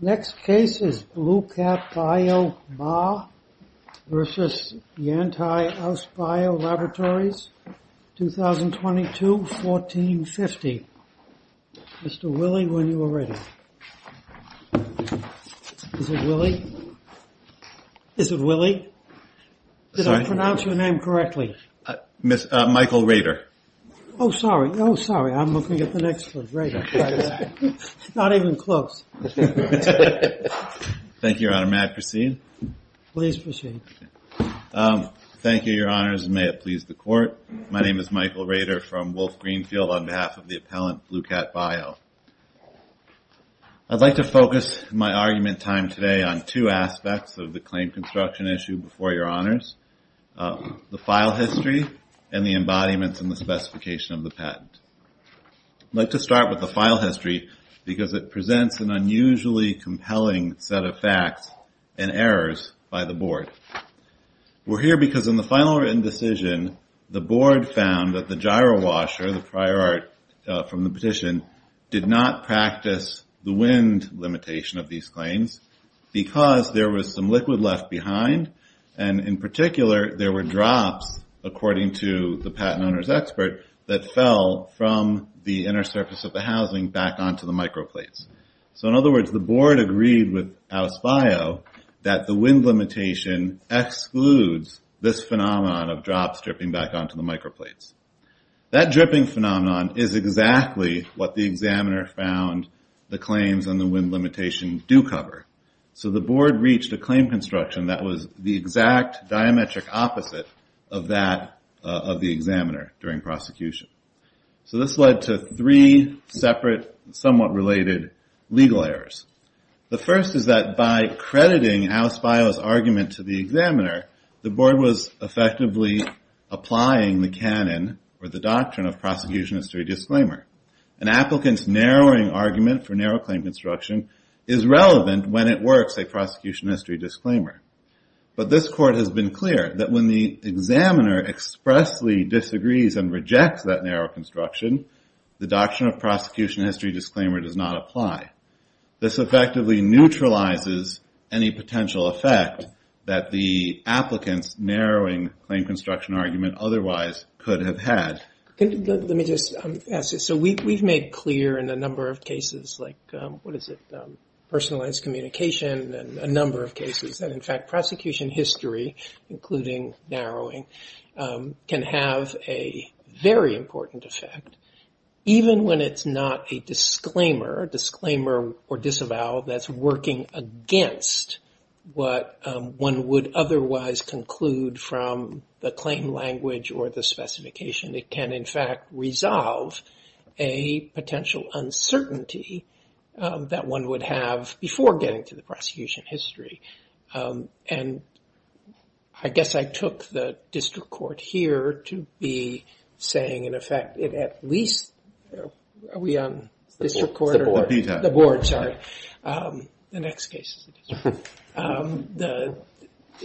Next case is BlueCatBio MA v. Yantai AusBio Laboratories, 2022, 1450. Mr. Willie, when you are ready. Is it Willie? Is it Willie? Did I pronounce your name correctly? Michael Rader. Oh, sorry. Oh, sorry. I'm looking at the next one. Not even close. Thank you, Your Honor. May I proceed? Please proceed. Thank you, Your Honors, and may it please the Court. My name is Michael Rader from Wolf Greenfield on behalf of the appellant BlueCatBio. I'd like to focus my argument time today on two aspects of the claim construction issue before Your Honors. I'd like to start with the file history because it presents an unusually compelling set of facts and errors by the Board. We're here because in the final written decision, the Board found that the gyro washer, the prior art from the petition, did not practice the wind limitation of these claims because there was some liquid left behind, and in particular, there were drops, according to the patent owner's expert, that fell from the inner surface of the housing back onto the microplates. So, in other words, the Board agreed with AusBio that the wind limitation excludes this phenomenon of drops dripping back onto the microplates. That dripping phenomenon is exactly what the examiner found the claims on the wind limitation do cover. So the Board reached a claim construction that was the exact diametric opposite of that of the examiner during prosecution. So this led to three separate, somewhat related, legal errors. The first is that by crediting AusBio's argument to the examiner, the Board was effectively applying the canon or the doctrine of prosecution as to a disclaimer. An applicant's narrowing argument for narrow claim construction is relevant when it works, a prosecution history disclaimer. But this Court has been clear that when the examiner expressly disagrees and rejects that narrow construction, the doctrine of prosecution history disclaimer does not apply. This effectively neutralizes any potential effect that the applicant's narrowing claim construction argument otherwise could have had. Let me just ask this. So we've made clear in a number of cases, like, what is it, personalized communication, and a number of cases that, in fact, prosecution history, including narrowing, can have a very important effect. Even when it's not a disclaimer or disavowal that's working against what one would otherwise conclude from the claim language or the specification, it can, in fact, resolve a potential uncertainty that one would have before getting to the prosecution history. And I guess I took the district court here to be saying, in effect, it at least – are we on district court? It's the board. The board, sorry. The next case is the district court.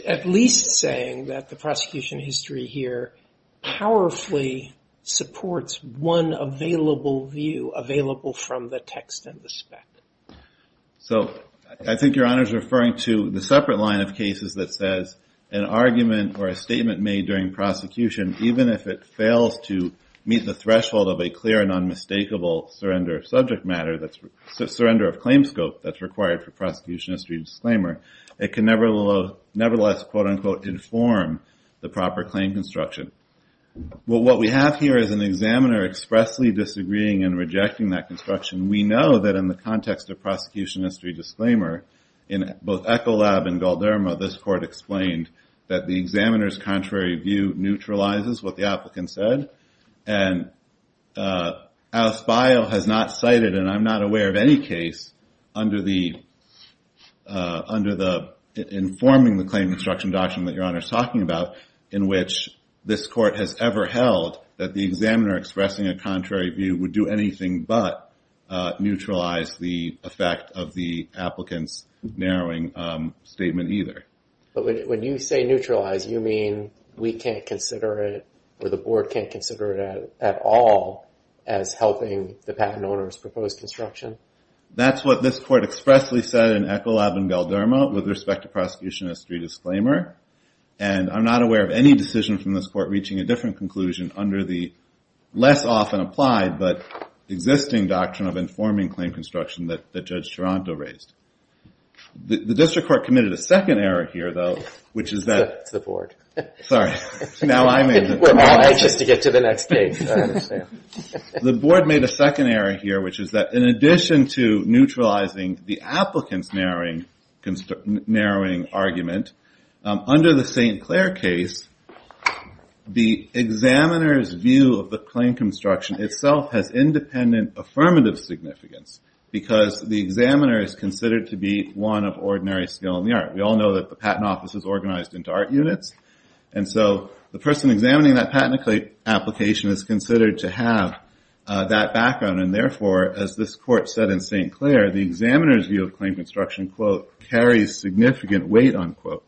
At least saying that the prosecution history here powerfully supports one available view, available from the text and the spec. So I think Your Honor is referring to the separate line of cases that says an argument or a statement made during prosecution, even if it fails to meet the threshold of a clear and unmistakable surrender of subject matter, surrender of claim scope that's required for prosecution history disclaimer, it can nevertheless, quote, unquote, inform the proper claim construction. Well, what we have here is an examiner expressly disagreeing and rejecting that construction. We know that in the context of prosecution history disclaimer, in both Echolab and Galderma, this court explained that the examiner's contrary view neutralizes what the applicant said. And Alice Bile has not cited, and I'm not aware of any case under the informing the claim construction doctrine that Your Honor is talking about, in which this court has ever held that the examiner expressing a contrary view would do anything but neutralize the effect of the applicant's narrowing statement either. But when you say neutralize, you mean we can't consider it, or the board can't consider it at all, as helping the patent owner's proposed construction? That's what this court expressly said in Echolab and Galderma with respect to prosecution history disclaimer. And I'm not aware of any decision from this court reaching a different conclusion under the less often applied but existing doctrine of informing claim construction that Judge Taranto raised. The district court committed a second error here, though, which is that It's the board. Sorry. Now I made the point. We're not anxious to get to the next case, I understand. The board made a second error here, which is that in addition to neutralizing the applicant's narrowing argument, under the St. Clair case, the examiner's view of the claim construction itself has independent affirmative significance because the examiner is considered to be one of ordinary skill in the art. We all know that the patent office is organized into art units. And so the person examining that patent application is considered to have that background. And therefore, as this court said in St. Clair, the examiner's view of claim construction, quote, carries significant weight, unquote.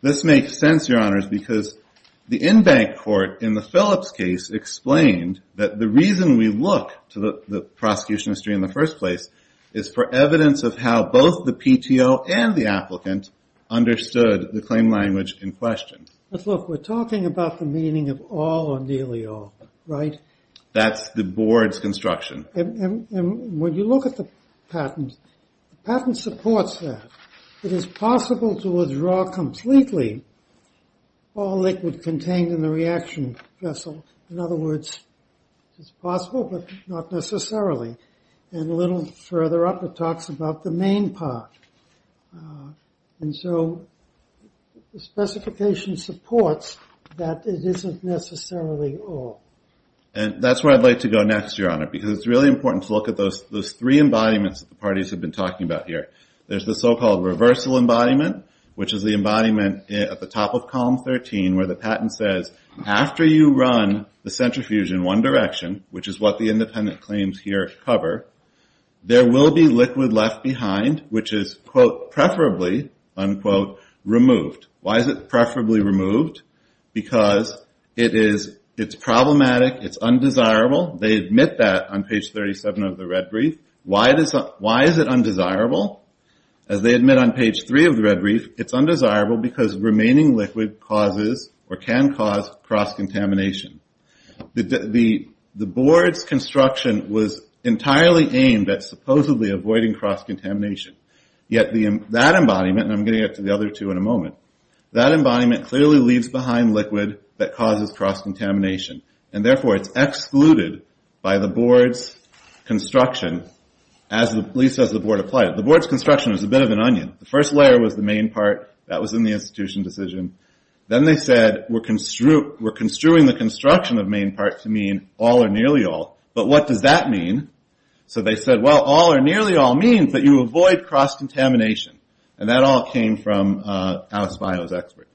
This makes sense, Your Honors, because the in-bank court in the Phillips case explained that the reason we look to the prosecution history in the first place is for evidence of how both the PTO and the applicant understood the claim language in question. But look, we're talking about the meaning of all or nearly all, right? That's the board's construction. And when you look at the patent, the patent supports that. It is possible to withdraw completely all liquid contained in the reaction vessel. In other words, it's possible, but not necessarily. And a little further up, it talks about the main part. And so the specification supports that it isn't necessarily all. And that's where I'd like to go next, Your Honor, because it's really important to look at those three embodiments that the parties have been talking about here. There's the so-called reversal embodiment, which is the embodiment at the top of column 13 where the patent says, after you run the centrifuge in one direction, which is what the independent claims here cover, there will be liquid left behind, which is, quote, preferably, unquote, removed. Why is it preferably removed? Because it's problematic, it's undesirable. They admit that on page 37 of the red brief. Why is it undesirable? As they admit on page 3 of the red brief, it's undesirable because remaining liquid causes or can cause cross-contamination. The board's construction was entirely aimed at supposedly avoiding cross-contamination. Yet that embodiment, and I'm going to get to the other two in a moment, that embodiment clearly leaves behind liquid that causes cross-contamination. And therefore it's excluded by the board's construction, at least as the board applied it. The board's construction was a bit of an onion. The first layer was the main part. That was in the institution decision. Then they said, we're construing the construction of main parts to mean all or nearly all. But what does that mean? So they said, well, all or nearly all means that you avoid cross-contamination. And that all came from Alice Bio's expert.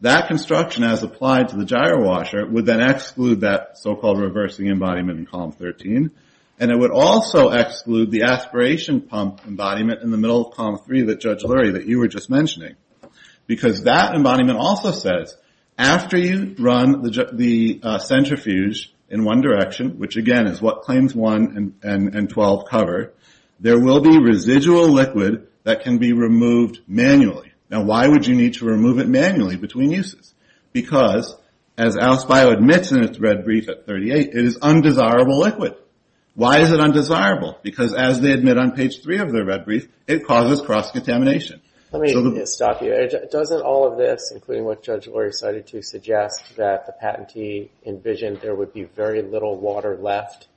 That construction, as applied to the gyro washer, would then exclude that so-called reversing embodiment in column 13. And it would also exclude the aspiration pump embodiment in the middle of column 3 that Judge Lurie, that you were just mentioning. Because that embodiment also says, after you run the centrifuge in one direction, which again is what claims 1 and 12 cover, there will be residual liquid that can be removed manually. Now why would you need to remove it manually between uses? Because, as Alice Bio admits in its red brief at 38, it is undesirable liquid. Why is it undesirable? Because as they admit on page 3 of their red brief, it causes cross-contamination. Let me stop you. Doesn't all of this, including what Judge Lurie cited to suggest, that the patentee envisioned there would be very little water left,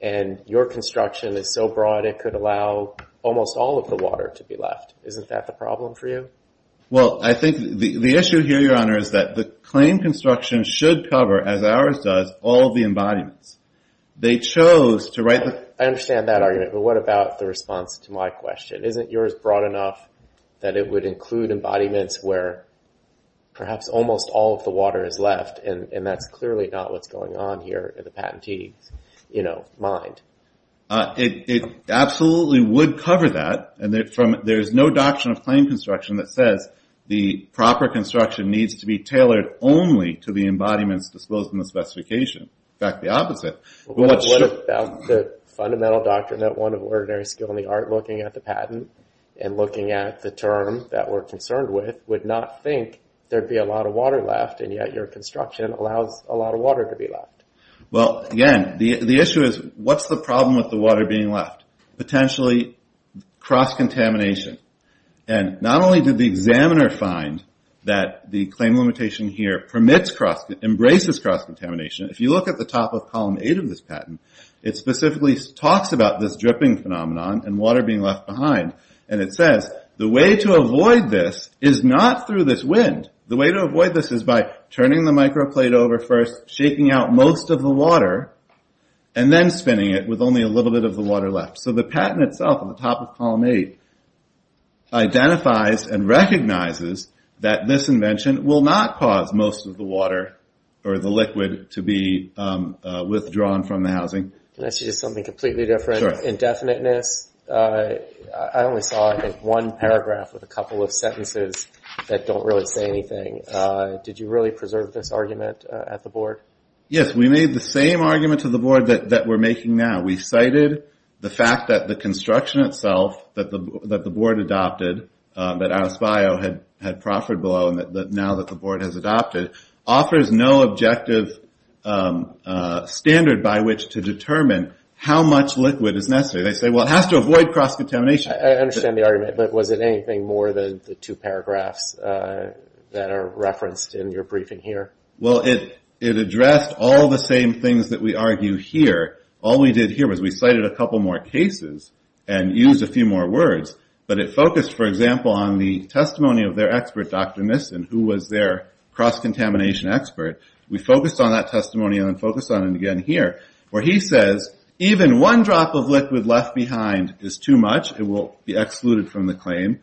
and your construction is so broad it could allow almost all of the water to be left. Isn't that the problem for you? Well, I think the issue here, Your Honor, is that the claim construction should cover, as ours does, all of the embodiments. They chose to write the... I understand that argument, but what about the response to my question? Isn't yours broad enough that it would include embodiments where perhaps almost all of the water is left? And that's clearly not what's going on here in the patentee's mind. It absolutely would cover that. There's no doctrine of claim construction that says the proper construction needs to be tailored only to the embodiments disclosed in the specification. In fact, the opposite. What about the fundamental doctrine that one of ordinary skill in the art looking at the patent and looking at the term that we're concerned with would not think there'd be a lot of water left, and yet your construction allows a lot of water to be left? Well, again, the issue is what's the problem with the water being left? Potentially cross-contamination. And not only did the examiner find that the claim limitation here embraces cross-contamination, if you look at the top of column 8 of this patent, it specifically talks about this dripping phenomenon and water being left behind. And it says the way to avoid this is not through this wind. The way to avoid this is by turning the microplate over first, shaking out most of the water, and then spinning it with only a little bit of the water left. So the patent itself, on the top of column 8, identifies and recognizes that this invention will not cause most of the water or the liquid to be withdrawn from the housing. Can I say just something completely different? Sure. Indefiniteness. I only saw, I think, one paragraph with a couple of sentences that don't really say anything. Did you really preserve this argument at the board? Yes, we made the same argument to the board that we're making now. We cited the fact that the construction itself that the board adopted, that Atos Bio had proffered below, now that the board has adopted, offers no objective standard by which to determine how much liquid is necessary. They say, well, it has to avoid cross-contamination. I understand the argument, but was it anything more than the two paragraphs that are referenced in your briefing here? Well, it addressed all the same things that we argue here. All we did here was we cited a couple more cases and used a few more words, but it focused, for example, on the testimony of their expert, Dr. Nissen, who was their cross-contamination expert. We focused on that testimony and then focused on it again here, where he says, even one drop of liquid left behind is too much. It will be excluded from the claim.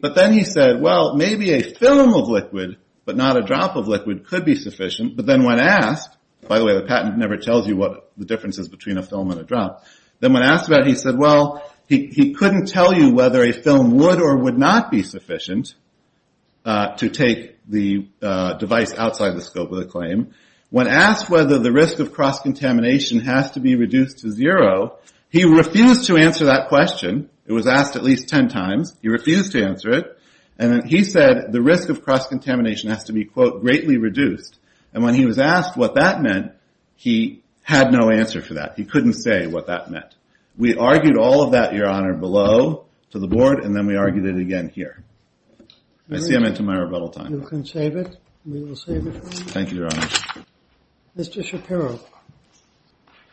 But then he said, well, maybe a film of liquid, but not a drop of liquid, could be sufficient. But then when asked, by the way, the patent never tells you what the difference is between a film and a drop, then when asked about it, he said, well, he couldn't tell you whether a film would or would not be sufficient to take the device outside the scope of the claim. When asked whether the risk of cross-contamination has to be reduced to zero, he refused to answer that question. It was asked at least 10 times. He refused to answer it. And then he said the risk of cross-contamination has to be, quote, greatly reduced. And when he was asked what that meant, he had no answer for that. He couldn't say what that meant. We argued all of that, Your Honor, below to the board, and then we argued it again here. I see I'm into my rebuttal time. You can save it. We will save it for you. Thank you, Your Honor. Mr. Shapiro. Good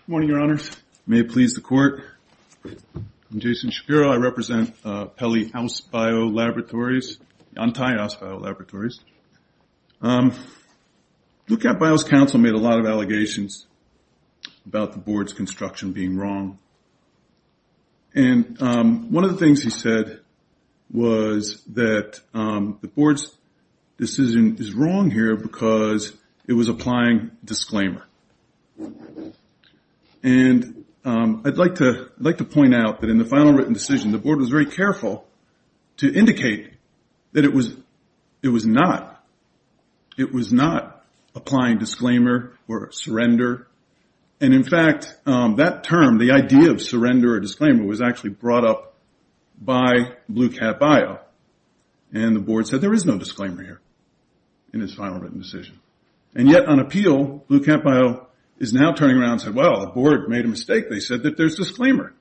morning, Your Honors. May it please the Court. I'm Jason Shapiro. I represent Pelley House BioLaboratories, the entire House BioLaboratories. Lookout Bio's counsel made a lot of allegations about the board's construction being wrong. And one of the things he said was that the board's decision is wrong here because it was applying disclaimer. And I'd like to point out that in the final written decision, the board was very careful to indicate that it was not. It was not applying disclaimer or surrender. And in fact, that term, the idea of surrender or disclaimer, was actually brought up by Blue Cat Bio. And the board said there is no disclaimer here in his final written decision. And yet on appeal, Blue Cat Bio is now turning around and said, well, the board made a mistake. They said that there's disclaimer.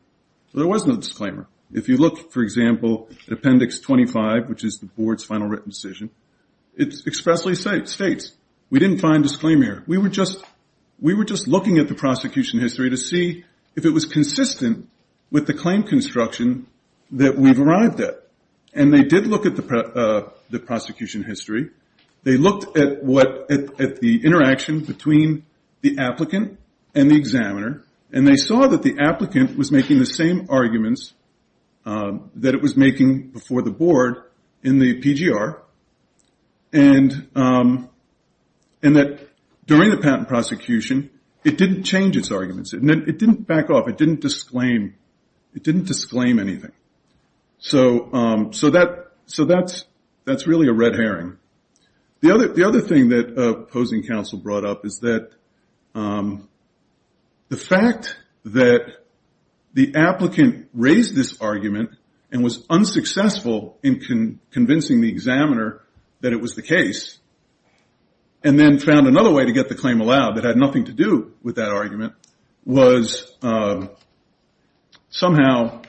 There was no disclaimer. If you look, for example, at Appendix 25, which is the board's final written decision, it expressly states we didn't find disclaimer here. We were just looking at the prosecution history to see if it was consistent with the claim construction that we've arrived at. And they did look at the prosecution history. They looked at the interaction between the applicant and the examiner. And they saw that the applicant was making the same arguments that it was making before the board in the PGR. And that during the patent prosecution, it didn't change its arguments. It didn't back off. It didn't disclaim. It didn't disclaim anything. So that's really a red herring. The other thing that opposing counsel brought up is that the fact that the applicant raised this argument and was unsuccessful in convincing the examiner that it was the case, and then found another way to get the claim allowed that had nothing to do with that argument, was somehow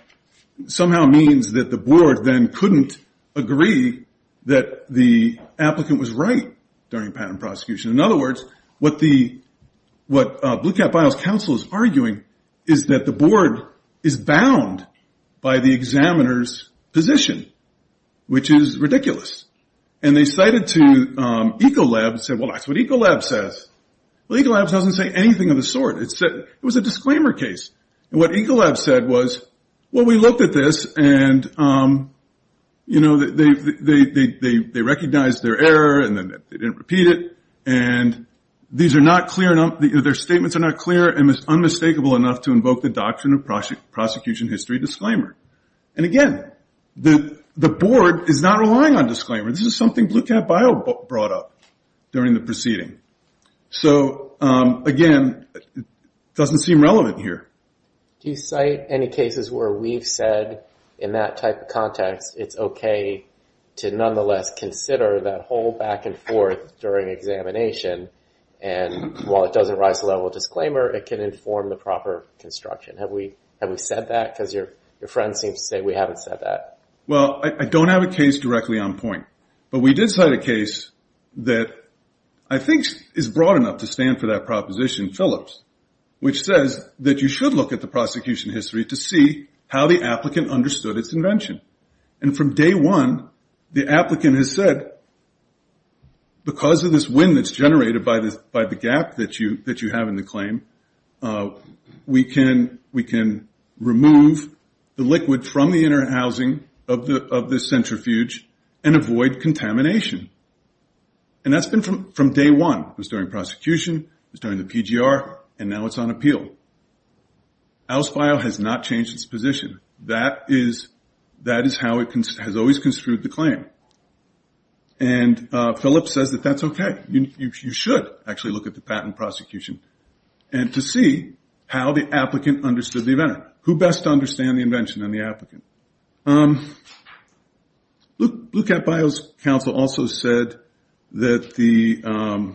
means that the board then couldn't agree that the applicant was right during patent prosecution. In other words, what Blue Cap Files counsel is arguing is that the board is bound by the examiner's position, which is ridiculous. And they cited to Ecolab and said, well, that's what Ecolab says. Well, Ecolab doesn't say anything of the sort. It was a disclaimer case. And what Ecolab said was, well, we looked at this and they recognized their error, and they didn't repeat it, and their statements are not clear and it's unmistakable enough to invoke the doctrine of prosecution history disclaimer. And again, the board is not relying on disclaimer. This is something Blue Cap File brought up during the proceeding. So again, it doesn't seem relevant here. Do you cite any cases where we've said, in that type of context, it's okay to nonetheless consider that whole back and forth during examination, and while it doesn't rise to the level of disclaimer, it can inform the proper construction? Have we said that? Because your friend seems to say we haven't said that. Well, I don't have a case directly on point. But we did cite a case that I think is broad enough to stand for that proposition, Phillips, which says that you should look at the prosecution history to see how the applicant understood its invention. And from day one, the applicant has said, because of this wind that's generated by the gap that you have in the claim, we can remove the liquid from the inner housing of this centrifuge and avoid contamination. And that's been from day one. It was during prosecution, it was during the PGR, and now it's on appeal. Al's File has not changed its position. That is how it has always construed the claim. And Phillips says that that's okay. You should actually look at the patent prosecution to see how the applicant understood the inventor. Who best to understand the invention than the applicant? Blue Cat Bios Council also said that the...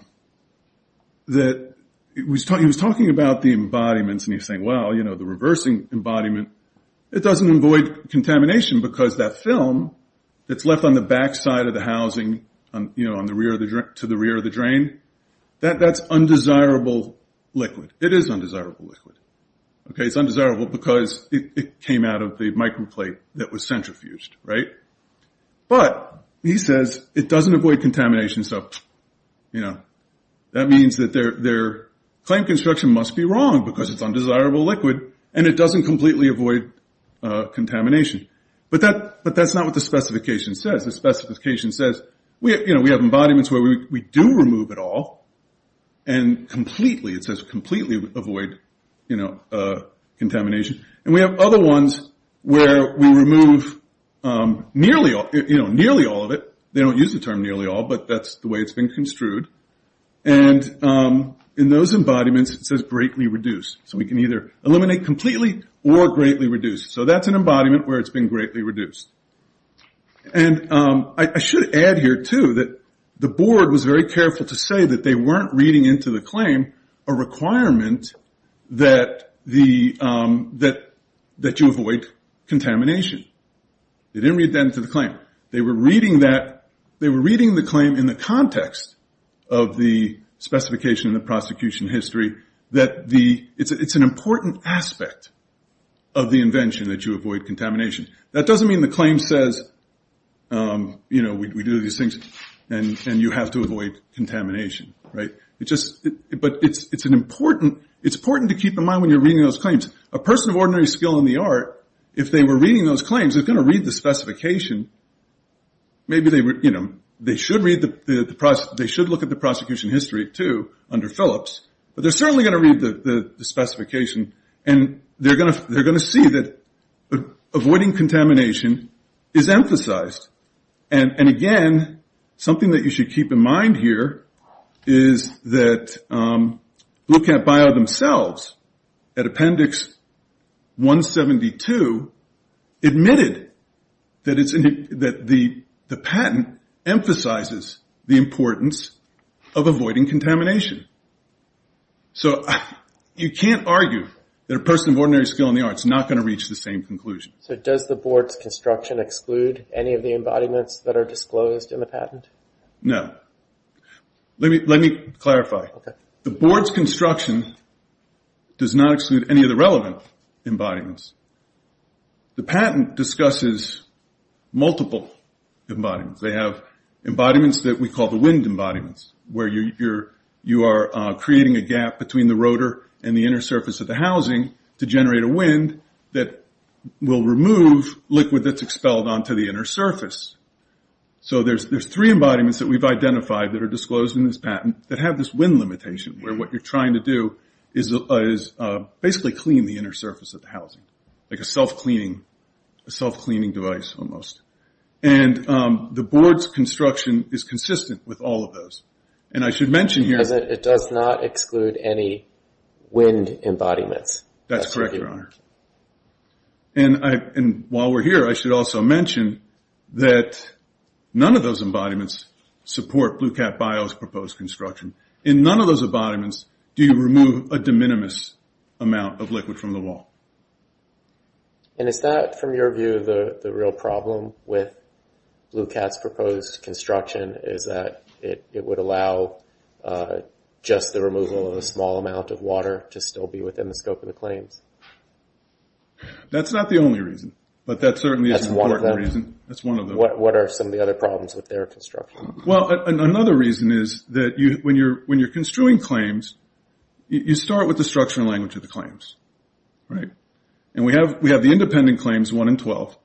He was talking about the embodiments, and he was saying, well, the reversing embodiment, it doesn't avoid contamination because that film that's left on the backside of the housing to the rear of the drain, that's undesirable liquid. It is undesirable liquid. It's undesirable because it came out of the microplate that was centrifuged, right? But he says it doesn't avoid contamination, so that means that their claim construction must be wrong because it's undesirable liquid, and it doesn't completely avoid contamination. But that's not what the specification says. The specification says we have embodiments where we do remove it all, and completely, it says completely avoid contamination. And we have other ones where we remove nearly all of it. They don't use the term nearly all, but that's the way it's been construed. And in those embodiments, it says greatly reduced, so we can either eliminate completely or greatly reduce. So that's an embodiment where it's been greatly reduced. And I should add here, too, that the board was very careful to say that they weren't reading into the claim a requirement that you avoid contamination. They didn't read that into the claim. They were reading the claim in the context of the specification in the prosecution history that it's an important aspect of the invention that you avoid contamination. That doesn't mean the claim says, you know, But it's important to keep in mind when you're reading those claims. A person of ordinary skill in the art, if they were reading those claims, they're going to read the specification. Maybe they should look at the prosecution history, too, under Phillips. But they're certainly going to read the specification, and they're going to see that avoiding contamination is emphasized. And again, something that you should keep in mind here is that Blue Cat Bio themselves, at Appendix 172, admitted that the patent emphasizes the importance of avoiding contamination. So you can't argue that a person of ordinary skill in the art is not going to reach the same conclusion. So does the board's construction exclude any of the embodiments that are disclosed in the patent? No. Let me clarify. The board's construction does not exclude any of the relevant embodiments. The patent discusses multiple embodiments. They have embodiments that we call the wind embodiments, where you are creating a gap between the rotor and the inner surface of the housing to generate a wind that will remove liquid that's expelled onto the inner surface. So there's three embodiments that we've identified that are disclosed in this patent that have this wind limitation, where what you're trying to do is basically clean the inner surface of the housing, like a self-cleaning device, almost. And the board's construction is consistent with all of those. And I should mention here... That's correct, Your Honor. And while we're here, I should also mention that none of those embodiments support BlueCat Bio's proposed construction. In none of those embodiments do you remove a de minimis amount of liquid from the wall. And is that, from your view, the real problem with BlueCat's proposed construction, is that it would allow just the removal of a small amount of water to still be within the scope of the claims. That's not the only reason. But that certainly is an important reason. What are some of the other problems with their construction? Well, another reason is that when you're construing claims, you start with the structure and language of the claims. And we have the independent claims 1 and 12.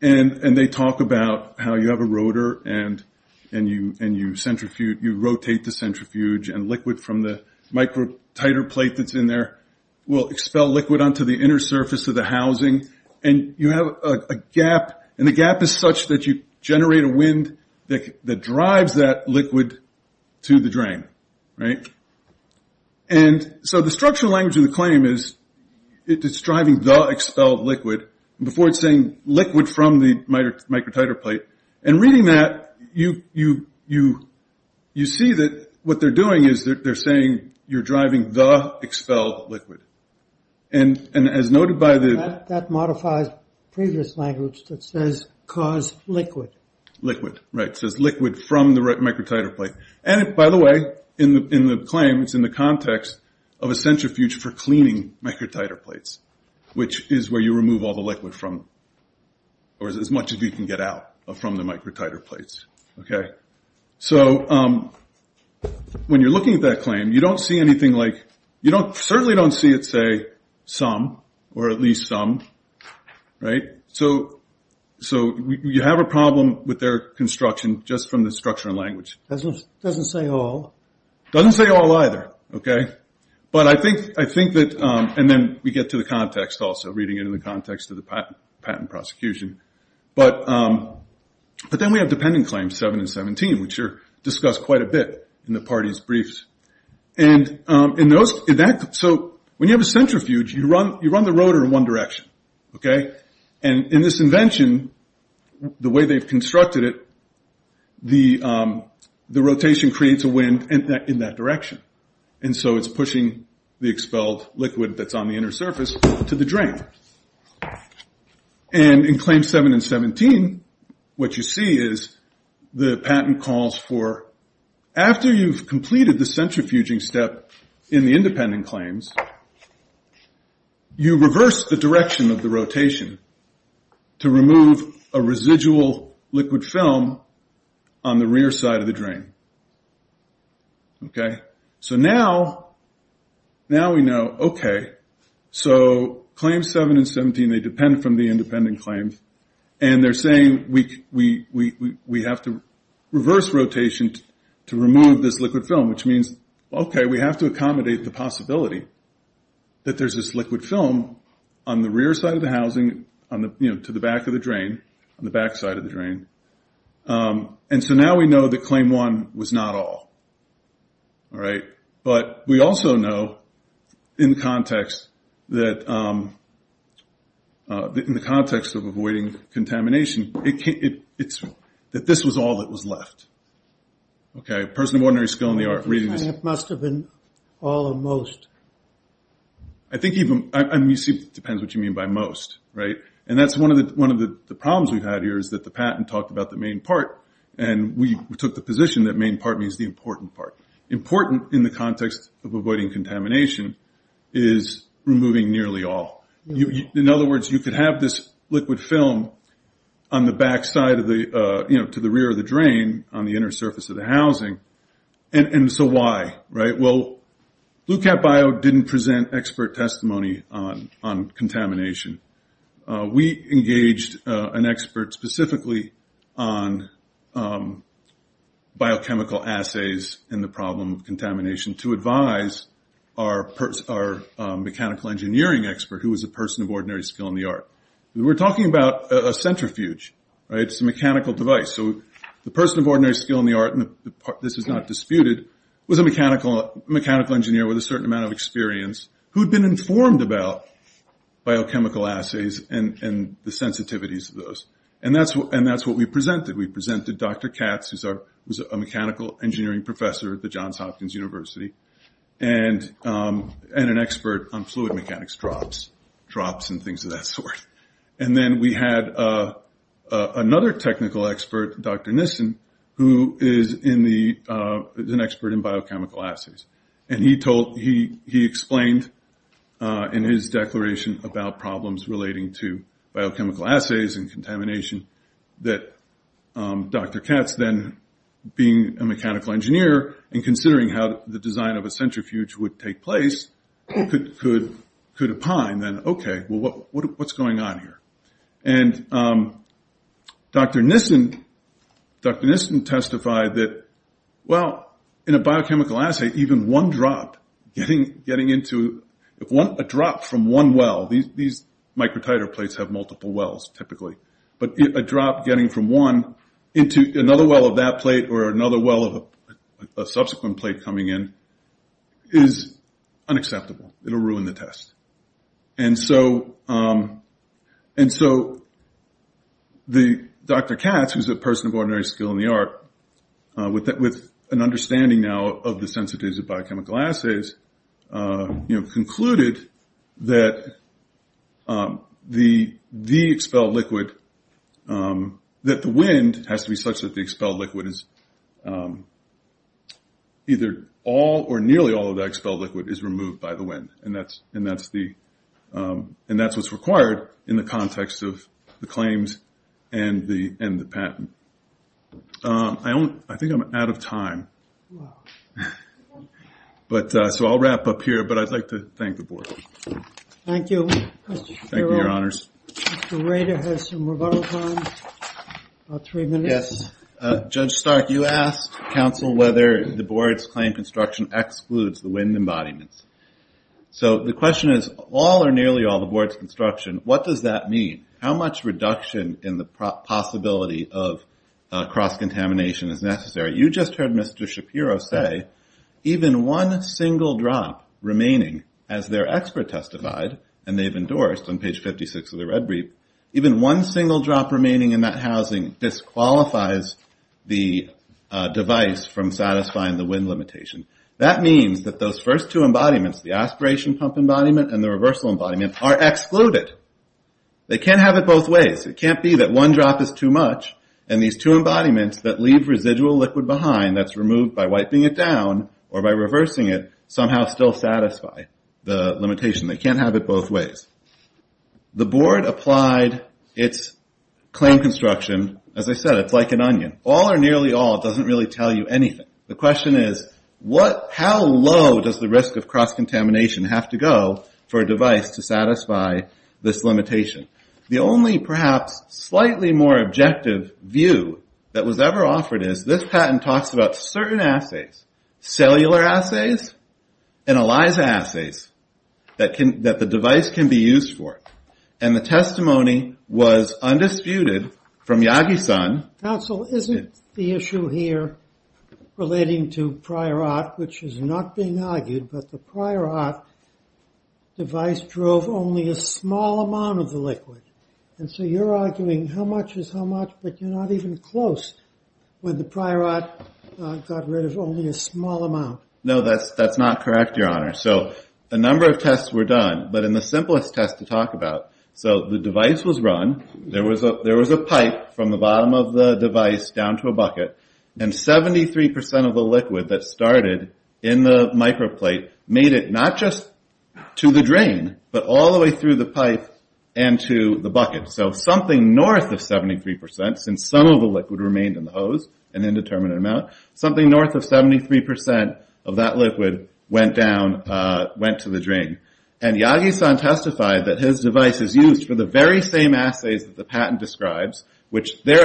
And they talk about how you have a rotor and you rotate the centrifuge and liquid from the microtiter plate that's in there will expel liquid onto the inner surface of the housing. And you have a gap. And the gap is such that you generate a wind that drives that liquid to the drain. Right? And so the structural language of the claim is it's driving the expelled liquid. Before it's saying liquid from the microtiter plate. And reading that, you see that what they're doing is they're saying you're driving the expelled liquid. And as noted by the... That modifies previous language that says cause liquid. Liquid. Right. It says liquid from the microtiter plate. And by the way, in the claim, it's in the context of a centrifuge for cleaning microtiter plates, which is where you remove all the liquid from. Or as much as you can get out from the microtiter plates. Okay? So when you're looking at that claim, you don't see anything like... You certainly don't see it say some or at least some. Right? So you have a problem with their construction just from the structural language. Doesn't say all. Doesn't say all either. Okay? But I think that... And then we get to the context also, reading it in the context of the patent prosecution. But then we have dependent claims 7 and 17, which are discussed quite a bit in the parties' briefs. And in those... So when you have a centrifuge, you run the rotor in one direction. Okay? And in this invention, the way they've constructed it, the rotation creates a wind in that direction. And so it's pushing the expelled liquid that's on the inner surface to the drain. And in claims 7 and 17, what you see is the patent calls for... After you've completed the centrifuging step in the independent claims, you reverse the direction of the rotation to remove a residual liquid film on the rear side of the drain. Okay? So now... Now we know, okay, so claims 7 and 17, they depend from the independent claims, and they're saying we have to reverse rotation to remove this liquid film, which means, okay, we have to accommodate the possibility that there's this liquid film on the rear side of the housing, you know, to the back of the drain, on the back side of the drain. And so now we know that claim 1 was not all. All right? But we also know, in context, that in the context of avoiding contamination, that this was all that was left. Okay? A person of ordinary skill in the art of reading this... It must have been all or most. I think even... I mean, it depends what you mean by most, right? And that's one of the problems we've had here, is that the patent talked about the main part, and we took the position that main part means the important part. Important in the context of avoiding contamination is removing nearly all. In other words, you could have this liquid film on the back side of the... you know, to the rear of the drain, on the inner surface of the housing, and so why, right? Well, BlueCatBio didn't present expert testimony on contamination. We engaged an expert specifically on biochemical assays and the problem of contamination to advise our mechanical engineering expert, who was a person of ordinary skill in the art. We're talking about a centrifuge, right? It's a mechanical device. So the person of ordinary skill in the art, and this is not disputed, was a mechanical engineer with a certain amount of experience who'd been informed about biochemical assays and the sensitivities of those. And that's what we presented. We presented Dr. Katz, who's a mechanical engineering professor at the Johns Hopkins University, and an expert on fluid mechanics drops, drops and things of that sort. And then we had another technical expert, Dr. Nissen, who is an expert in biochemical assays, and he explained in his declaration about problems relating to biochemical assays and contamination that Dr. Katz then, being a mechanical engineer and considering how the design of a centrifuge would take place, could opine then, okay, well, what's going on here? And Dr. Nissen testified that, well, in a biochemical assay, even one drop getting into, a drop from one well, these microtiter plates have multiple wells, typically, but a drop getting from one into another well of that plate or another well of a subsequent plate coming in is unacceptable. It'll ruin the test. And so Dr. Katz, who's a person of ordinary skill in the art, with an understanding now of the sensitivities of biochemical assays, concluded that the expelled liquid, that the wind has to be such that the expelled liquid is, either all or nearly all of the expelled liquid is removed by the wind, and that's what's required in the context of the claims and the patent. I think I'm out of time. So I'll wrap up here, but I'd like to thank the board. Thank you. Thank you, Your Honors. Dr. Rader has some rebuttal time, about three minutes. Yes, Judge Stark, you asked counsel whether the board's claim construction excludes the wind embodiments. So the question is, all or nearly all the board's construction, what does that mean? How much reduction in the possibility of cross-contamination is necessary? You just heard Mr. Shapiro say, even one single drop remaining, as their expert testified, and they've endorsed on page 56 of the Red Brief, even one single drop remaining in that housing disqualifies the device from satisfying the wind limitation. That means that those first two embodiments, the aspiration pump embodiment and the reversal embodiment, are excluded. They can't have it both ways. It can't be that one drop is too much, and these two embodiments that leave residual liquid behind, that's removed by wiping it down or by reversing it, somehow still satisfy the limitation. They can't have it both ways. The board applied its claim construction, as I said, it's like an onion. All or nearly all doesn't really tell you anything. The question is, how low does the risk of cross-contamination have to go for a device to satisfy this limitation? The only perhaps slightly more objective view that was ever offered is this patent talks about certain assays, cellular assays and ELISA assays, that the device can be used for. And the testimony was undisputed from Yagi-San. Counsel, isn't the issue here relating to Priorat, which is not being argued, but the Priorat device drove only a small amount of the liquid. And so you're arguing how much is how much, but you're not even close when the Priorat got rid of only a small amount. No, that's not correct, Your Honor. So a number of tests were done, but in the simplest test to talk about, so the device was run, there was a pipe from the bottom of the device down to a bucket, and 73% of the liquid that started in the microplate made it not just to the drain, but all the way through the pipe and to the bucket. So something north of 73%, since some of the liquid remained in the hose, an indeterminate amount, something north of 73% of that liquid went to the drain. And Yagi-San testified that his device is used for the very same assays that the patent describes, which their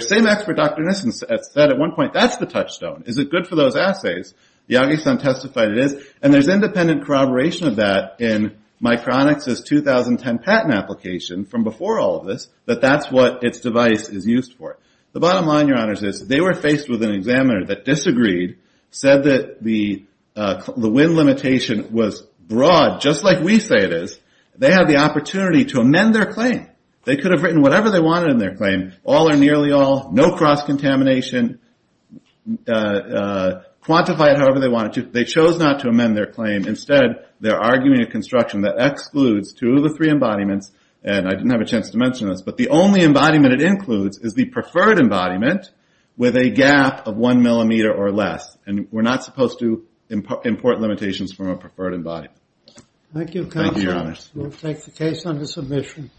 same expert, Dr. Nissen, said at one point, that's the touchstone. Is it good for those assays? Yagi-San testified it is. And there's independent corroboration of that in Micronix's 2010 patent application from before all of this, that that's what its device is used for. The bottom line, Your Honors, is they were faced with an examiner that disagreed, said that the wind limitation was broad, just like we say it is. They had the opportunity to amend their claim. They could have written whatever they wanted in their claim, all or nearly all, no cross-contamination, quantify it however they wanted to. They chose not to amend their claim. Instead, they're arguing a construction that excludes two of the three embodiments and I didn't have a chance to mention this, but the only embodiment it includes is the preferred embodiment with a gap of one millimeter or less. And we're not supposed to import limitations from a preferred embodiment. Thank you, Counselor. Thank you, Your Honors. We'll take the case under submission.